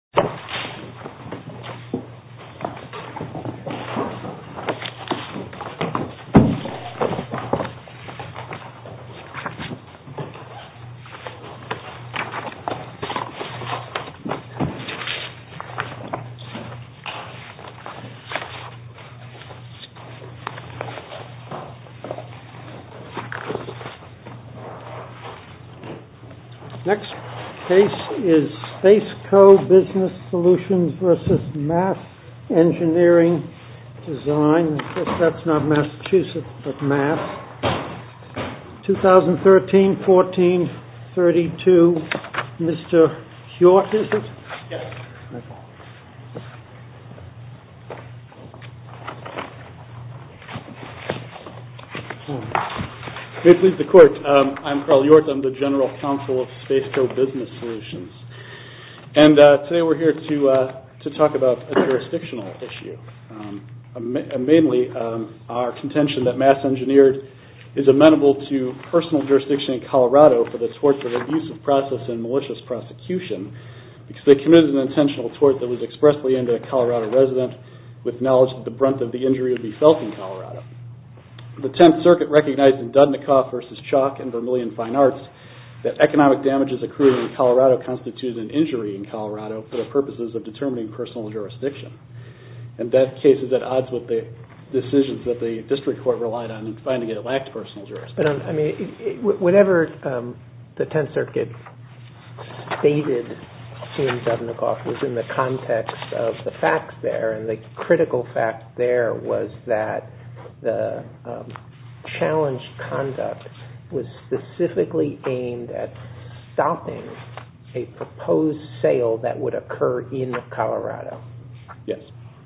www.spacecobusiness.com www.spacecobusiness.com 2013-14-32, Mr. Hjort, is it? Yes. May it please the Court, I'm Carl Hjort, I'm the General Counsel of Spaceco Business Solutions. And today we're here to talk about a jurisdictional issue. Mainly our contention that Mass Engineered is amenable to personal jurisdiction in Colorado for the torts of abusive process and malicious prosecution because they committed an intentional tort that was expressly aimed at a Colorado resident with knowledge that the brunt of the injury would be felt in Colorado. The Tenth Circuit recognized in Dudnikoff v. Chalk and Vermillion Fine Arts that economic damages accrued in Colorado constitutes an injury in Colorado for the purposes of determining personal jurisdiction. In that case, is that odds with the decisions that the District Court relied on in finding it lacked personal jurisdiction? I mean, whatever the Tenth Circuit stated in Dudnikoff was in the context of the facts there and the critical fact there was that the challenged conduct was specifically aimed at stopping a proposed sale that would occur in Colorado. Yes.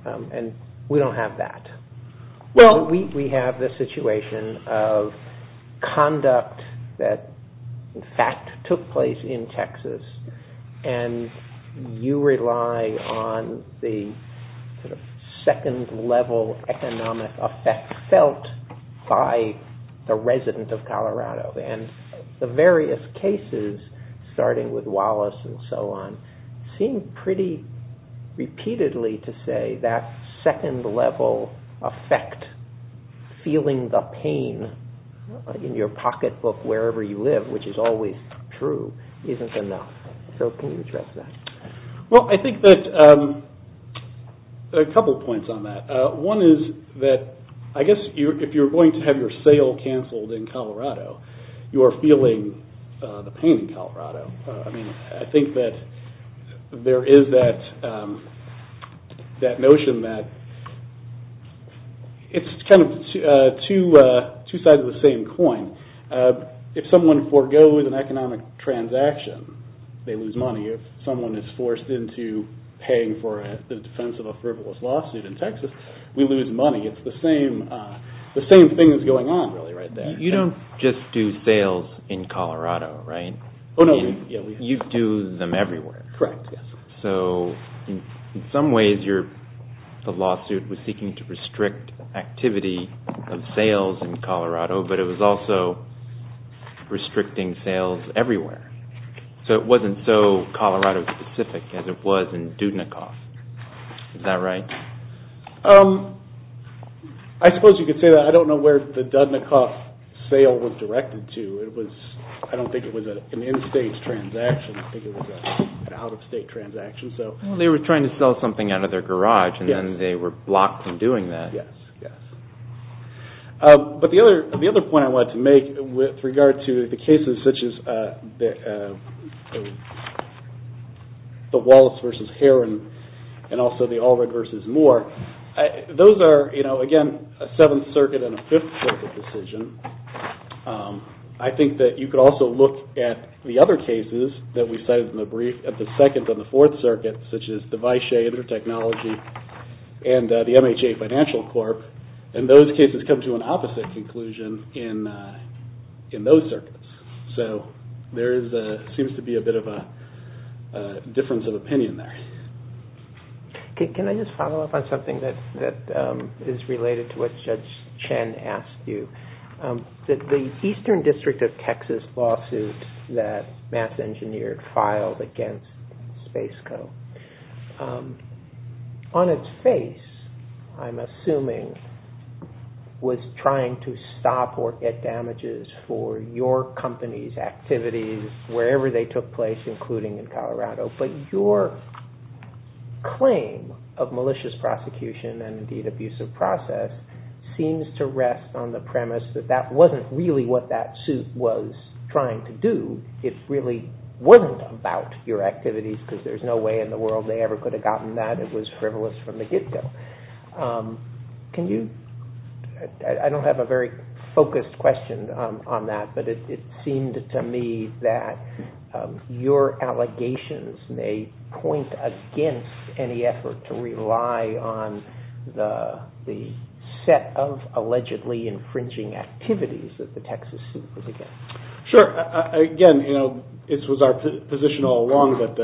And we don't have that. We have the situation of conduct that in fact took place in Texas and you rely on the second level economic effect felt by the resident of Colorado. And the various cases, starting with Wallace and so on, seem pretty repeatedly to say that second level effect, feeling the pain in your pocketbook wherever you live, which is always true, isn't enough. So can you address that? Well, I think that there are a couple of points on that. One is that I guess if you're going to have your sale canceled in Colorado, you are feeling the pain in Colorado. I mean, I think that there is that notion that it's kind of two sides of the same coin. If someone forgoes an economic transaction, they lose money. If someone is forced into paying for the defense of a frivolous lawsuit in Texas, we lose money. It's the same thing that's going on really right there. You don't just do sales in Colorado, right? Oh, no. You do them everywhere. Correct, yes. So in some ways the lawsuit was seeking to restrict activity of sales in Colorado, but it was also restricting sales everywhere. So it wasn't so Colorado specific as it was in Dudnikoff. Is that right? I suppose you could say that. I don't know where the Dudnikoff sale was directed to. I don't think it was an in-state transaction. I think it was an out-of-state transaction. They were trying to sell something out of their garage, and then they were blocked from doing that. Yes, yes. But the other point I wanted to make with regard to the cases such as the Wallace v. Herron and also the Allred v. Moore, those are, again, a Seventh Circuit and a Fifth Circuit decision. I think that you could also look at the other cases that we cited in the brief, at the Second and the Fourth Circuit, such as the Vishay Intertechnology and the MHA Financial Corp. And those cases come to an opposite conclusion in those circuits. So there seems to be a bit of a difference of opinion there. Can I just follow up on something that is related to what Judge Chen asked you? The Eastern District of Texas lawsuit that Mass Engineered filed against Spaceco, on its face, I'm assuming, was trying to stop or get damages for your company's activities wherever they took place, including in Colorado. But your claim of malicious prosecution and, indeed, abusive process seems to rest on the premise that that wasn't really what that suit was trying to do. It really wasn't about your activities because there's no way in the world they ever could have gotten that. It was frivolous from the get-go. I don't have a very focused question on that, but it seemed to me that your allegations may point against any effort to rely on the set of allegedly infringing activities that the Texas suit was against. Sure. Again, it was our position all along that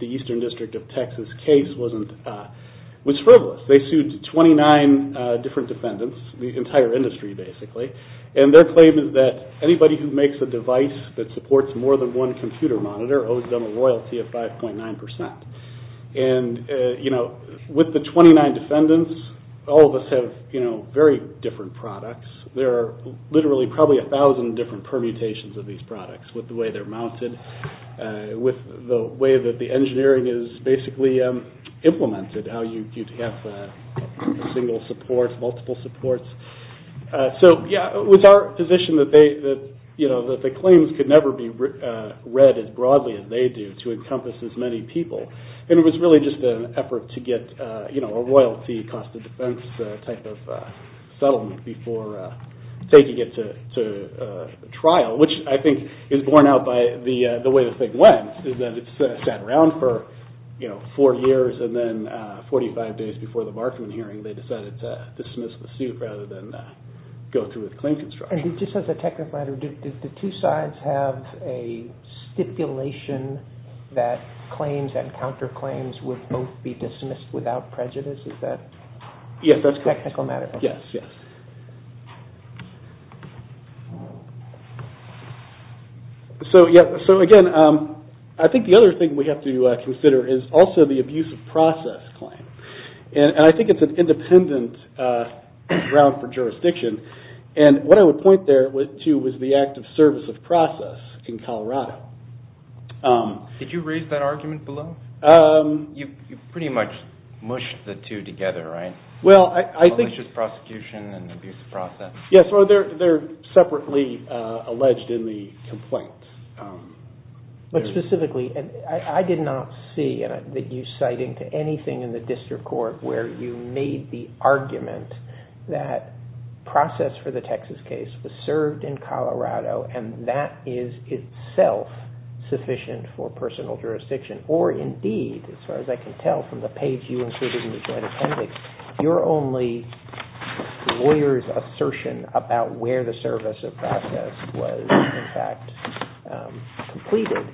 the Eastern District of Texas case was frivolous. They sued 29 different defendants, the entire industry, basically. And their claim is that anybody who makes a device that supports more than one computer monitor owes them a royalty of 5.9%. And with the 29 defendants, all of us have very different products. There are literally probably 1,000 different permutations of these products with the way they're mounted, with the way that the engineering is basically implemented, how you'd have single support, multiple supports. So, yeah, it was our position that the claims could never be read as broadly as they do to encompass as many people. And it was really just an effort to get a royalty cost of defense type of settlement before taking it to trial, which I think is borne out by the way the thing went. It sat around for four years, and then 45 days before the Markman hearing, they decided to dismiss the suit rather than go through with claim construction. And just as a technical matter, did the two sides have a stipulation that claims and counterclaims would both be dismissed without prejudice? Is that a technical matter? Yes. So, again, I think the other thing we have to consider is also the abuse of process claim. And I think it's an independent ground for jurisdiction. And what I would point there to was the act of service of process in Colorado. Did you raise that argument below? You pretty much mushed the two together, right? Well, I think- Just prosecution and abuse of process. Yes, well, they're separately alleged in the complaint. But specifically, I did not see that you citing to anything in the district court where you made the argument that process for the Texas case was served in Colorado and that is itself sufficient for personal jurisdiction. Or, indeed, as far as I can tell from the page you included in the joint appendix, your only lawyer's assertion about where the service of process was, in fact, completed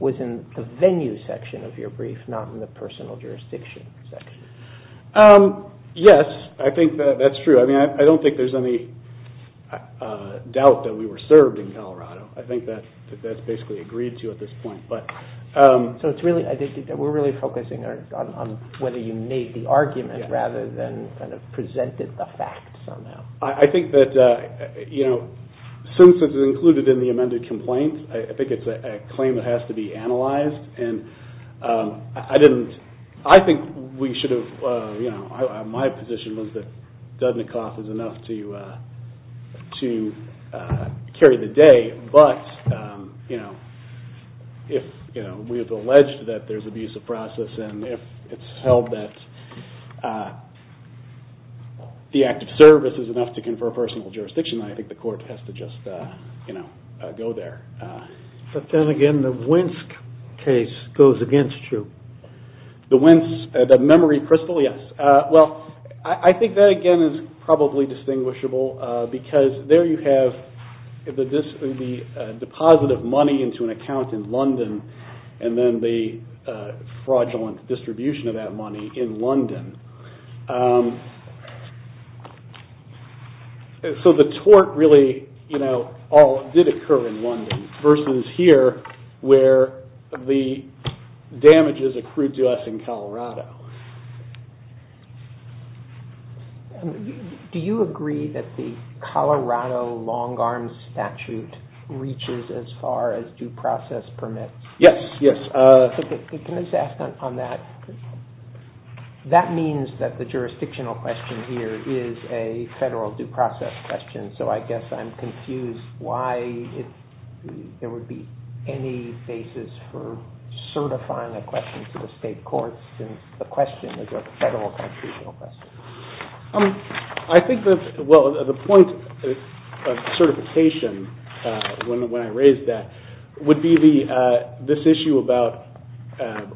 was in the venue section of your brief, not in the personal jurisdiction section. Yes, I think that's true. I mean, I don't think there's any doubt that we were served in Colorado. I think that's basically agreed to at this point. So we're really focusing on whether you made the argument rather than presented the fact somehow. I think that since it's included in the amended complaint, I think it's a claim that has to be analyzed. I think we should have- My position was that Dudnikoff is enough to carry the day. But if we have alleged that there's abuse of process and if it's held that the act of service is enough to confer personal jurisdiction, I think the court has to just go there. But then again, the Winsk case goes against you. The Winsk, the memory crystal, yes. Well, I think that again is probably distinguishable because there you have the deposit of money into an account in London and then the fraudulent distribution of that money in London. So the tort really all did occur in London versus here where the damages accrued to us in Colorado. Do you agree that the Colorado long-arm statute reaches as far as due process permits? Yes, yes. Can I just ask on that? That means that the jurisdictional question here is a federal due process question. So I guess I'm confused why there would be any basis for certifying a question to the state courts when the question is a federal constitutional question. I think that the point of certification when I raise that would be this issue about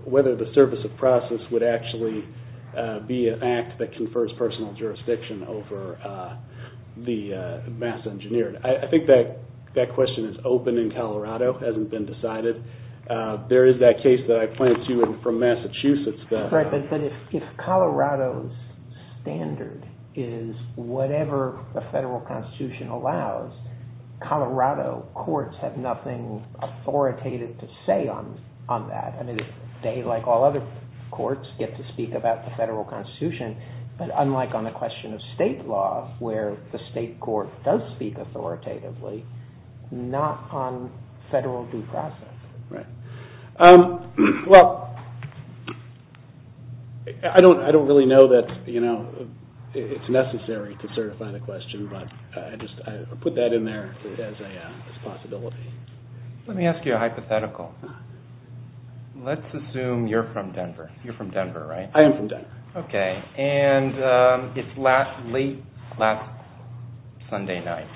whether the service of process would actually be an act that confers personal jurisdiction over the mass engineered. I think that question is open in Colorado. It hasn't been decided. There is that case that I pointed to from Massachusetts. But if Colorado's standard is whatever the federal constitution allows, Colorado courts have nothing authoritative to say on that. They, like all other courts, get to speak about the federal constitution but unlike on the question of state law where the state court does speak authoritatively, not on federal due process. Right. Well, I don't really know that it's necessary to certify the question, but I just put that in there as a possibility. Let me ask you a hypothetical. Let's assume you're from Denver. You're from Denver, right? I am from Denver. Okay. It's late Sunday night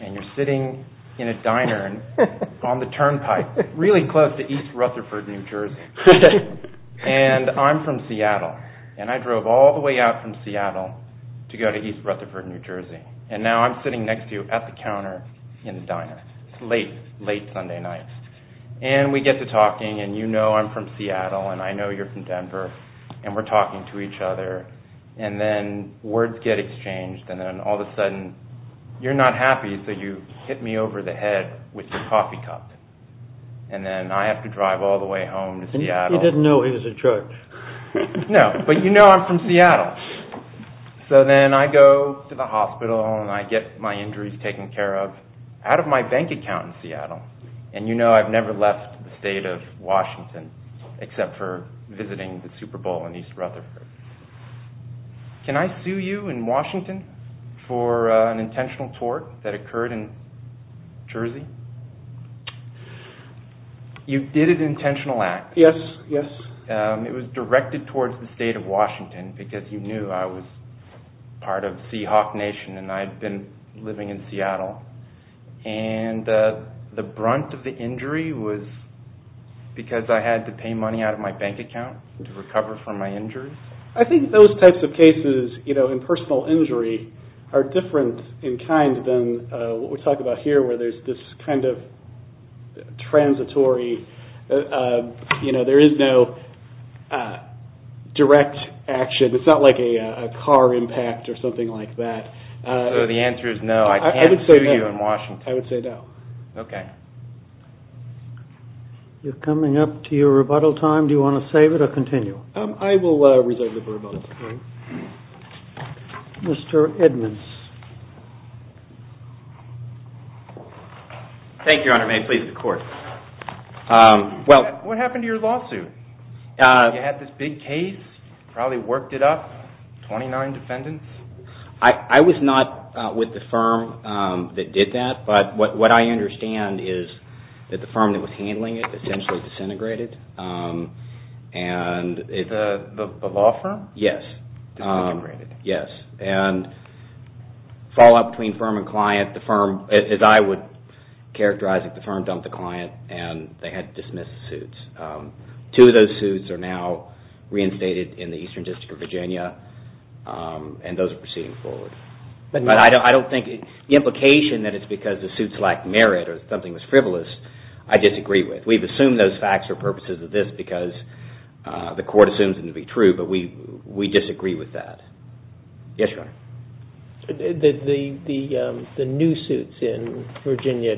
and you're sitting in a diner on the turnpike, really close to East Rutherford, New Jersey, and I'm from Seattle. I drove all the way out from Seattle to go to East Rutherford, New Jersey, and now I'm sitting next to you at the counter in the diner. It's late, late Sunday night. We get to talking and you know I'm from Seattle and I know you're from Denver and we're talking to each other and then words get exchanged and then all of a sudden you're not happy so you hit me over the head with your coffee cup and then I have to drive all the way home to Seattle. You didn't know it was a truck. No, but you know I'm from Seattle. So then I go to the hospital and I get my injuries taken care of out of my bank account in Seattle and you know I've never left the state of Washington except for visiting the Super Bowl in East Rutherford. Can I sue you in Washington for an intentional tort that occurred in Jersey? You did an intentional act. Yes, yes. It was directed towards the state of Washington because you knew I was part of Seahawk Nation and I had been living in Seattle and the brunt of the injury was because I had to pay money out of my bank account to recover from my injuries. I think those types of cases, you know, in personal injury are different in kind than what we talk about here where there's this kind of transitory, you know, there is no direct action. It's not like a car impact or something like that. So the answer is no. I can't sue you in Washington. I would say no. Okay. You're coming up to your rebuttal time. Do you want to save it or continue? I will reserve the rebuttal. Mr. Edmonds. Thank you, Your Honor. May it please the Court. What happened to your lawsuit? You had this big case, probably worked it up, 29 defendants. I was not with the firm that did that, but what I understand is that the firm that was handling it essentially disintegrated. The law firm? Yes. Disintegrated. Yes, and fallout between firm and client. The firm, as I would characterize it, the firm dumped the client and they had to dismiss the suits. Two of those suits are now reinstated in the Eastern District of Virginia and those are proceeding forward. But I don't think the implication that it's because the suits lacked merit or something was frivolous, I disagree with. We've assumed those facts for purposes of this because the Court assumes them to be true, but we disagree with that. Yes, Your Honor. The new suits in Virginia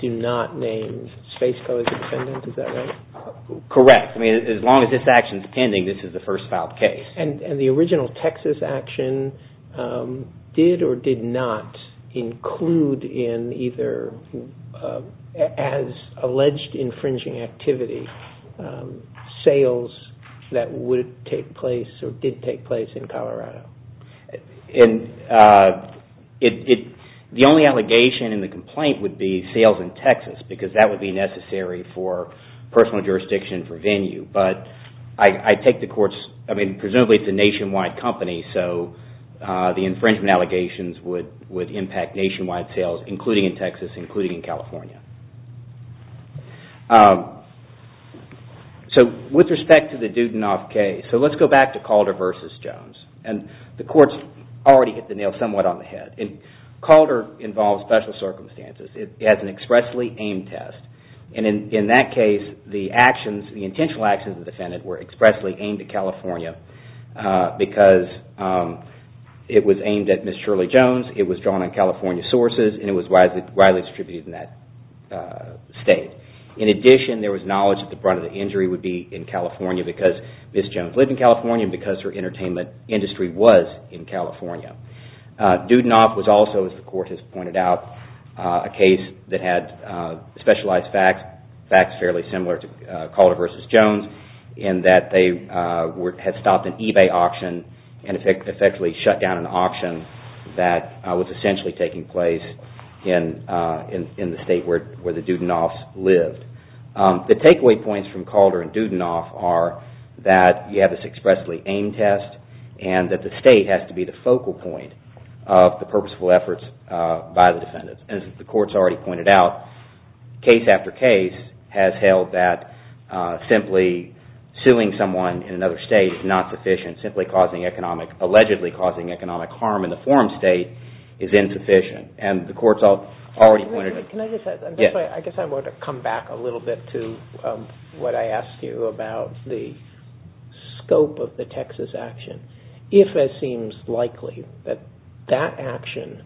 do not name Spaceco as a defendant. Is that right? Correct. I mean, as long as this action is pending, this is the first filed case. And the original Texas action did or did not include in either, as alleged infringing activity, sales that would take place or did take place in Colorado. The only allegation in the complaint would be sales in Texas because that would be necessary for personal jurisdiction for venue. But I take the Court's, I mean, presumably it's a nationwide company, so the infringement allegations would impact nationwide sales, including in Texas, including in California. So, with respect to the Dudinoff case, so let's go back to Calder v. Jones. And the Court's already hit the nail somewhat on the head. And Calder involves special circumstances. It has an expressly aimed test. And in that case, the actions, the intentional actions of the defendant were expressly aimed at California because it was aimed at Ms. Shirley Jones, it was drawn on California sources, and it was widely distributed in that state. In addition, there was knowledge that the brunt of the injury would be in California because Ms. Jones lived in California and because her entertainment industry was in California. Dudinoff was also, as the Court has pointed out, a case that had specialized facts, facts fairly similar to Calder v. Jones, in that they had stopped an eBay auction and effectively shut down an auction that was essentially taking place in the state where the Dudinoffs lived. The takeaway points from Calder and Dudinoff are that you have this expressly aimed test and that the state has to be the focal point of the purposeful efforts by the defendants. As the Court's already pointed out, case after case has held that simply suing someone in another state is not sufficient. Simply allegedly causing economic harm in the forum state is insufficient. And the Court's already pointed out... Can I just add, I guess I want to come back a little bit to what I asked you about the scope of the Texas action. If it seems likely that that action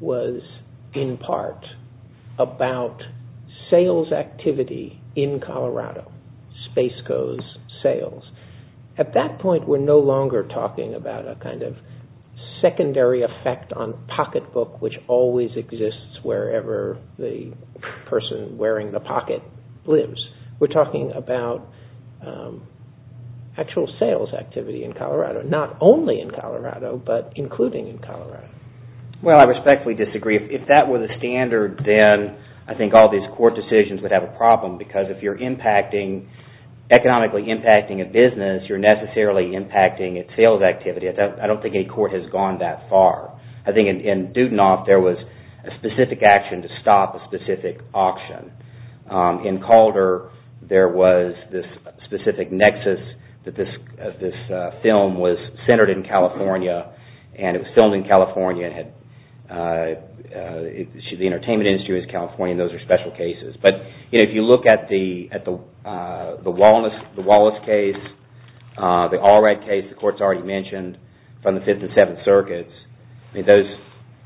was in part about sales activity in Colorado, Spaceco's sales, at that point we're no longer talking about a kind of secondary effect on pocketbook which always exists wherever the person wearing the pocket lives. We're talking about actual sales activity in Colorado. Not only in Colorado, but including in Colorado. Well, I respectfully disagree. If that were the standard, then I think all these Court decisions would have a problem because if you're economically impacting a business, you're necessarily impacting its sales activity. I don't think any Court has gone that far. I think in Dudinoff, there was a specific action to stop a specific auction. In Calder, there was this specific nexus that this film was centered in California and it was filmed in California and the entertainment industry was in California and those are special cases. But if you look at the Wallace case, the Allred case, the Court's already mentioned, from the Fifth and Seventh Circuits,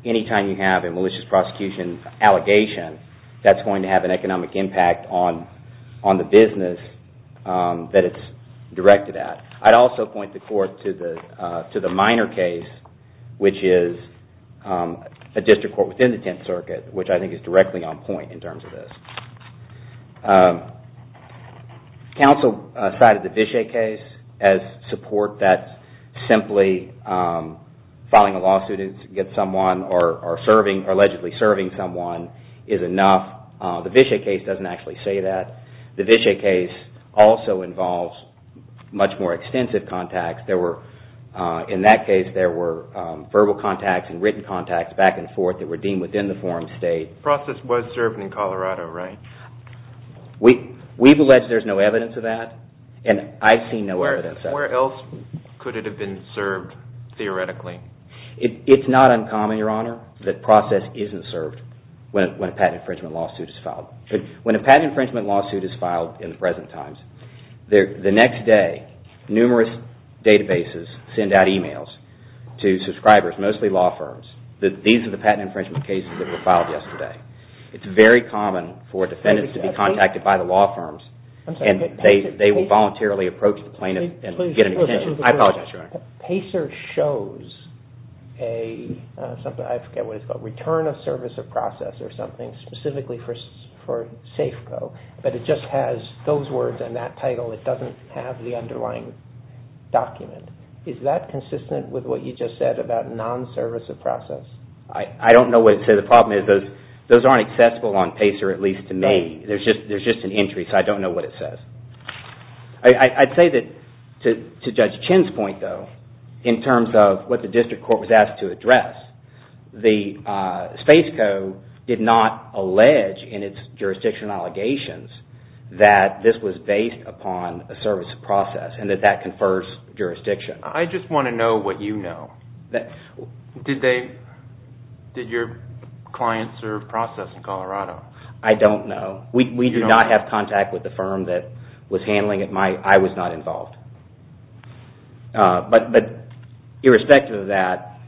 anytime you have a malicious prosecution allegation, that's going to have an economic impact on the business that it's directed at. I'd also point the Court to the Minor case, which is a district court within the Tenth Circuit, which I think is directly on point in terms of this. Counsel cited the Vishay case as support that simply filing a lawsuit against someone or allegedly serving someone is enough. The Vishay case doesn't actually say that. The Vishay case also involves much more extensive contacts. In that case, there were verbal contacts and written contacts back and forth that were deemed within the forum state. The process was served in Colorado, right? We've alleged there's no evidence of that and I've seen no evidence of that. Where else could it have been served, theoretically? It's not uncommon, Your Honor, that process isn't served when a patent infringement lawsuit is filed. When a patent infringement lawsuit is filed in the present times, the next day, numerous databases send out emails to subscribers, mostly law firms, that these are the patent infringement cases that were filed yesterday. It's very common for defendants to be contacted by the law firms and they will voluntarily approach the plaintiff and get a detention. I apologize, Your Honor. Pacer shows a, I forget what it's called, return of service of process or something specifically for Safeco, but it just has those words and that title. It doesn't have the underlying document. Is that consistent with what you just said about non-service of process? I don't know what to say. The problem is those aren't accessible on Pacer, at least to me. There's just an entry, so I don't know what it says. I'd say that to Judge Chin's point, though, in terms of what the district court was asked to address, the Safeco did not allege in its jurisdiction allegations that this was based upon a service of process and that that confers jurisdiction. I just want to know what you know. Did your client serve process in Colorado? I don't know. We do not have contact with the firm that was handling it. I was not involved. But irrespective of that,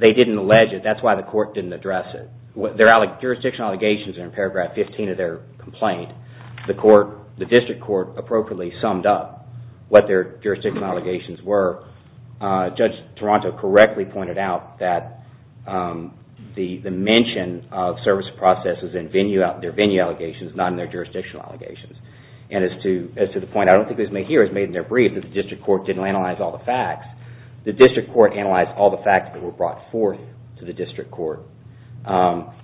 they didn't allege it. That's why the court didn't address it. Their jurisdiction allegations are in paragraph 15 of their complaint. The district court appropriately summed up what their jurisdiction allegations were. Judge Toronto correctly pointed out that the mention of service of process is in their venue allegations, not in their jurisdiction allegations. And as to the point, I don't think it was made here, it was made in their brief, that the district court didn't analyze all the facts. The district court analyzed all the facts that were brought forth to the district court.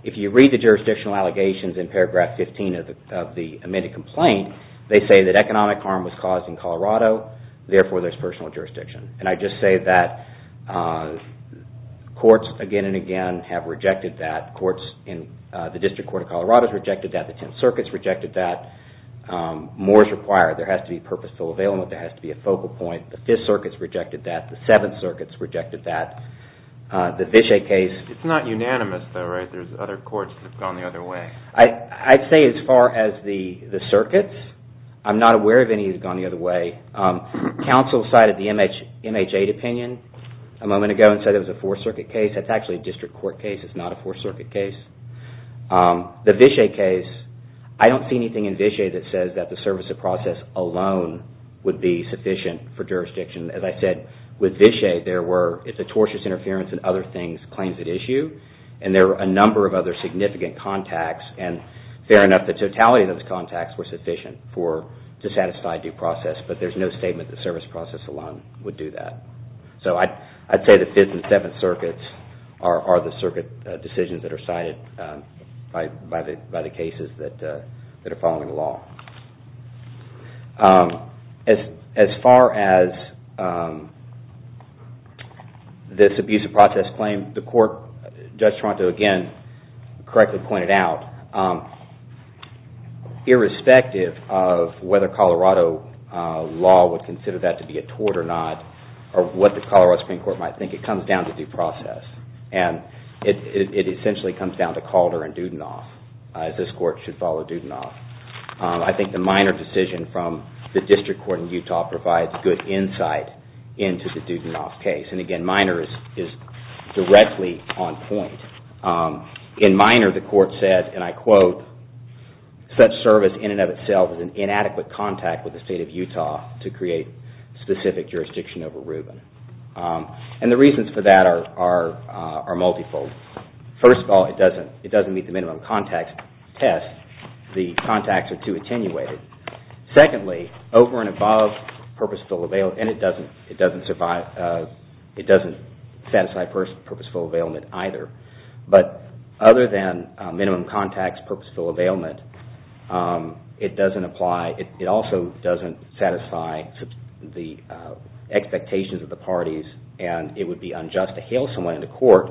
If you read the jurisdictional allegations in paragraph 15 of the amended complaint, they say that economic harm was caused in Colorado, therefore there's personal jurisdiction. And I just say that courts again and again have rejected that. The district court of Colorado has rejected that. The Tenth Circuit has rejected that. More is required. There has to be purposeful availment. There has to be a focal point. The Fifth Circuit has rejected that. The Seventh Circuit has rejected that. The Vishay case... It's not unanimous though, right? There's other courts that have gone the other way. I'd say as far as the circuits, I'm not aware of any that have gone the other way. Counsel cited the MH-8 opinion a moment ago and said it was a Fourth Circuit case. That's actually a district court case. It's not a Fourth Circuit case. The Vishay case, I don't see anything in Vishay that says that the service of process alone would be sufficient for jurisdiction. As I said, with Vishay, there were tortious interference and other things, claims at issue, and there were a number of other significant contacts. Fair enough, the totality of those contacts were sufficient to satisfy due process, but there's no statement that service process alone would do that. I'd say the Fifth and Seventh Circuits are the circuit decisions that are cited by the cases that are following the law. As far as this abuse of process claim, the court, Judge Toronto, again, correctly pointed out, irrespective of whether Colorado law would consider that to be a tort or not, or what the Colorado Supreme Court might think, it comes down to due process. It essentially comes down to Calder and Dudenhoff, as this court should follow Dudenhoff. I think the Minor decision from the District Court in Utah provides good insight into the Dudenhoff case. And again, Minor is directly on point. In Minor, the court said, and I quote, such service in and of itself is an inadequate contact with the State of Utah to create specific jurisdiction over Rubin. And the reasons for that are multiple. First of all, it doesn't meet the minimum contact test. The contacts are too attenuated. Secondly, over and above purposeful availment, and it doesn't satisfy purposeful availment either. But other than minimum contacts, purposeful availment, it doesn't apply. It also doesn't satisfy the expectations of the parties, and it would be unjust to hail someone into court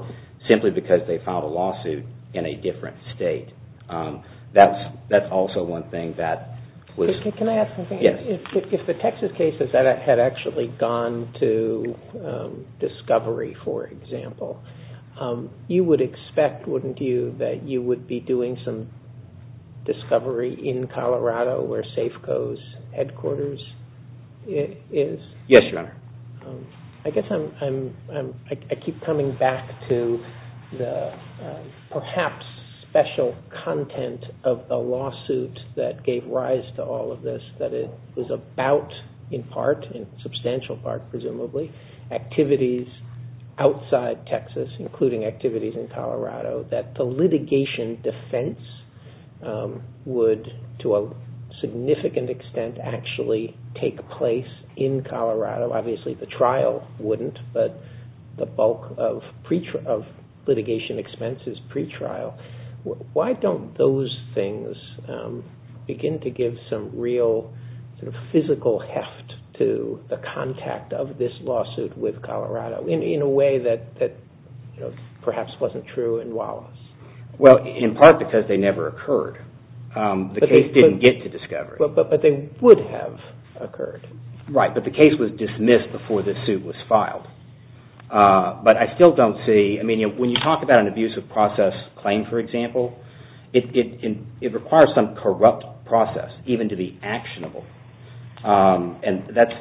simply because they filed a lawsuit in a different state. That's also one thing that was... Can I ask something? Yes. If the Texas case had actually gone to Discovery, for example, you would expect, wouldn't you, that you would be doing some Discovery in Colorado where Safeco's headquarters is? Yes, Your Honor. I guess I keep coming back to the perhaps special content of the lawsuit that gave rise to all of this, that it was about, in part, in substantial part presumably, activities outside Texas, including activities in Colorado, that the litigation defense would, to a significant extent, actually take place in Colorado. Obviously the trial wouldn't, but the bulk of litigation expense is pretrial. Why don't those things begin to give some real physical heft to the contact of this lawsuit with Colorado in a way that perhaps wasn't true in Wallace? Well, in part because they never occurred. The case didn't get to Discovery. But they would have occurred. Right, but the case was dismissed before this suit was filed. But I still don't see, I mean, when you talk about an abusive process claim, for example, it requires some corrupt process even to be actionable. And that's,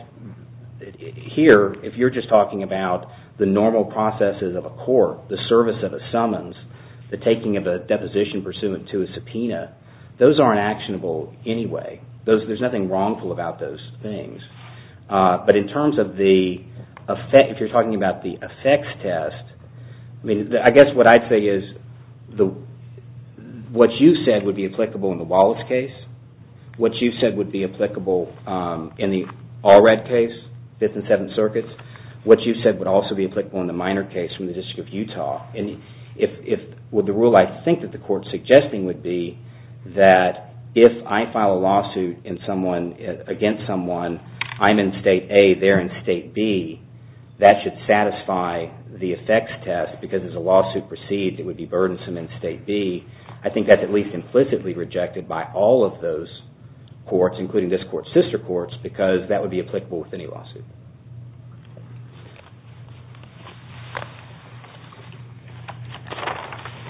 here, if you're just talking about the normal processes of a court, the service of a summons, the taking of a deposition pursuant to a subpoena, those aren't actionable anyway. There's nothing wrongful about those things. But in terms of the, if you're talking about the effects test, I mean, I guess what I'd say is what you said would be applicable in the Wallace case, what you said would be applicable in the Allred case, Fifth and Seventh Circuits, what you said would also be applicable in the Minor case from the District of Utah. The rule I think that the court's suggesting would be that if I file a lawsuit against someone, I'm in State A, they're in State B, that should satisfy the effects test because there's a lawsuit perceived that would be burdensome in State B. I think that's at least implicitly rejected by all of those courts, including this court's sister courts, because that would be applicable with any lawsuit.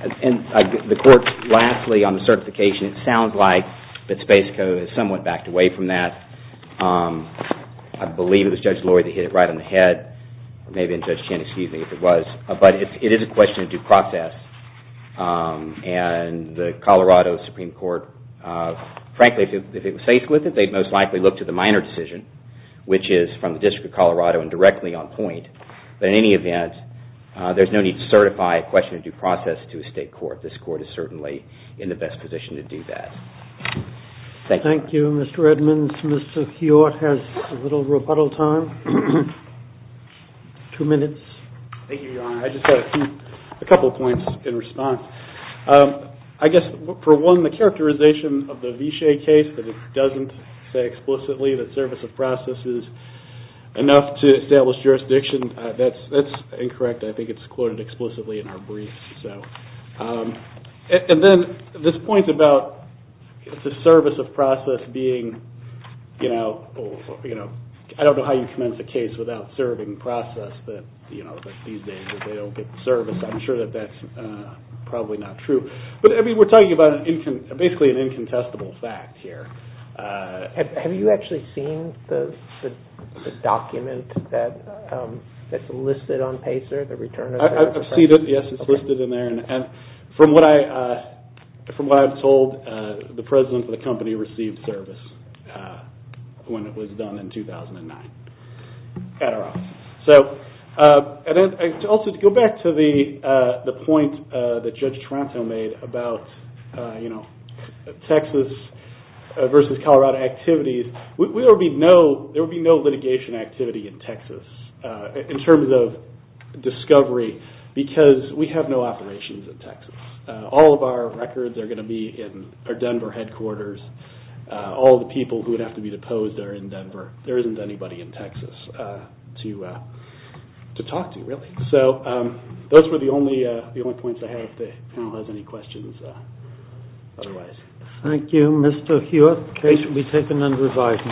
And the court, lastly, on the certification, it sounds like that space code is somewhat backed away from that. I believe it was Judge Lloyd that hit it right on the head, or maybe it was Judge Chen, excuse me, if it was. But it is a question of due process, and the Colorado Supreme Court, frankly, if it was faced with it, which is from the District of Colorado, and directly on point, but in any event, there's no need to certify a question of due process to a state court. This court is certainly in the best position to do that. Thank you. Thank you, Mr. Edmonds. Mr. Keough has a little rebuttal time. Two minutes. Thank you, Your Honor. I just have a couple of points in response. I guess, for one, the characterization of the Viché case that it doesn't say explicitly that service of process is enough to establish jurisdiction, that's incorrect. I think it's quoted explicitly in our brief. And then this point about the service of process being, I don't know how you commence a case without serving process, that these days they don't get the service. I'm sure that that's probably not true. But we're talking about basically an incontestable fact here. Have you actually seen the document that's listed on PACER, the return of service? Yes, it's listed in there. From what I've told, the president of the company received service when it was done in 2009 at our office. Also, to go back to the point that Judge Taranto made about Texas versus Colorado activities, there will be no litigation activity in Texas in terms of discovery because we have no operations in Texas. All of our records are going to be in our Denver headquarters. All of the people who would have to be deposed are in Denver. There isn't anybody in Texas to talk to, really. Those were the only points I have. If the panel has any questions, otherwise... Thank you, Mr. Hewitt. The case will be taken under revising.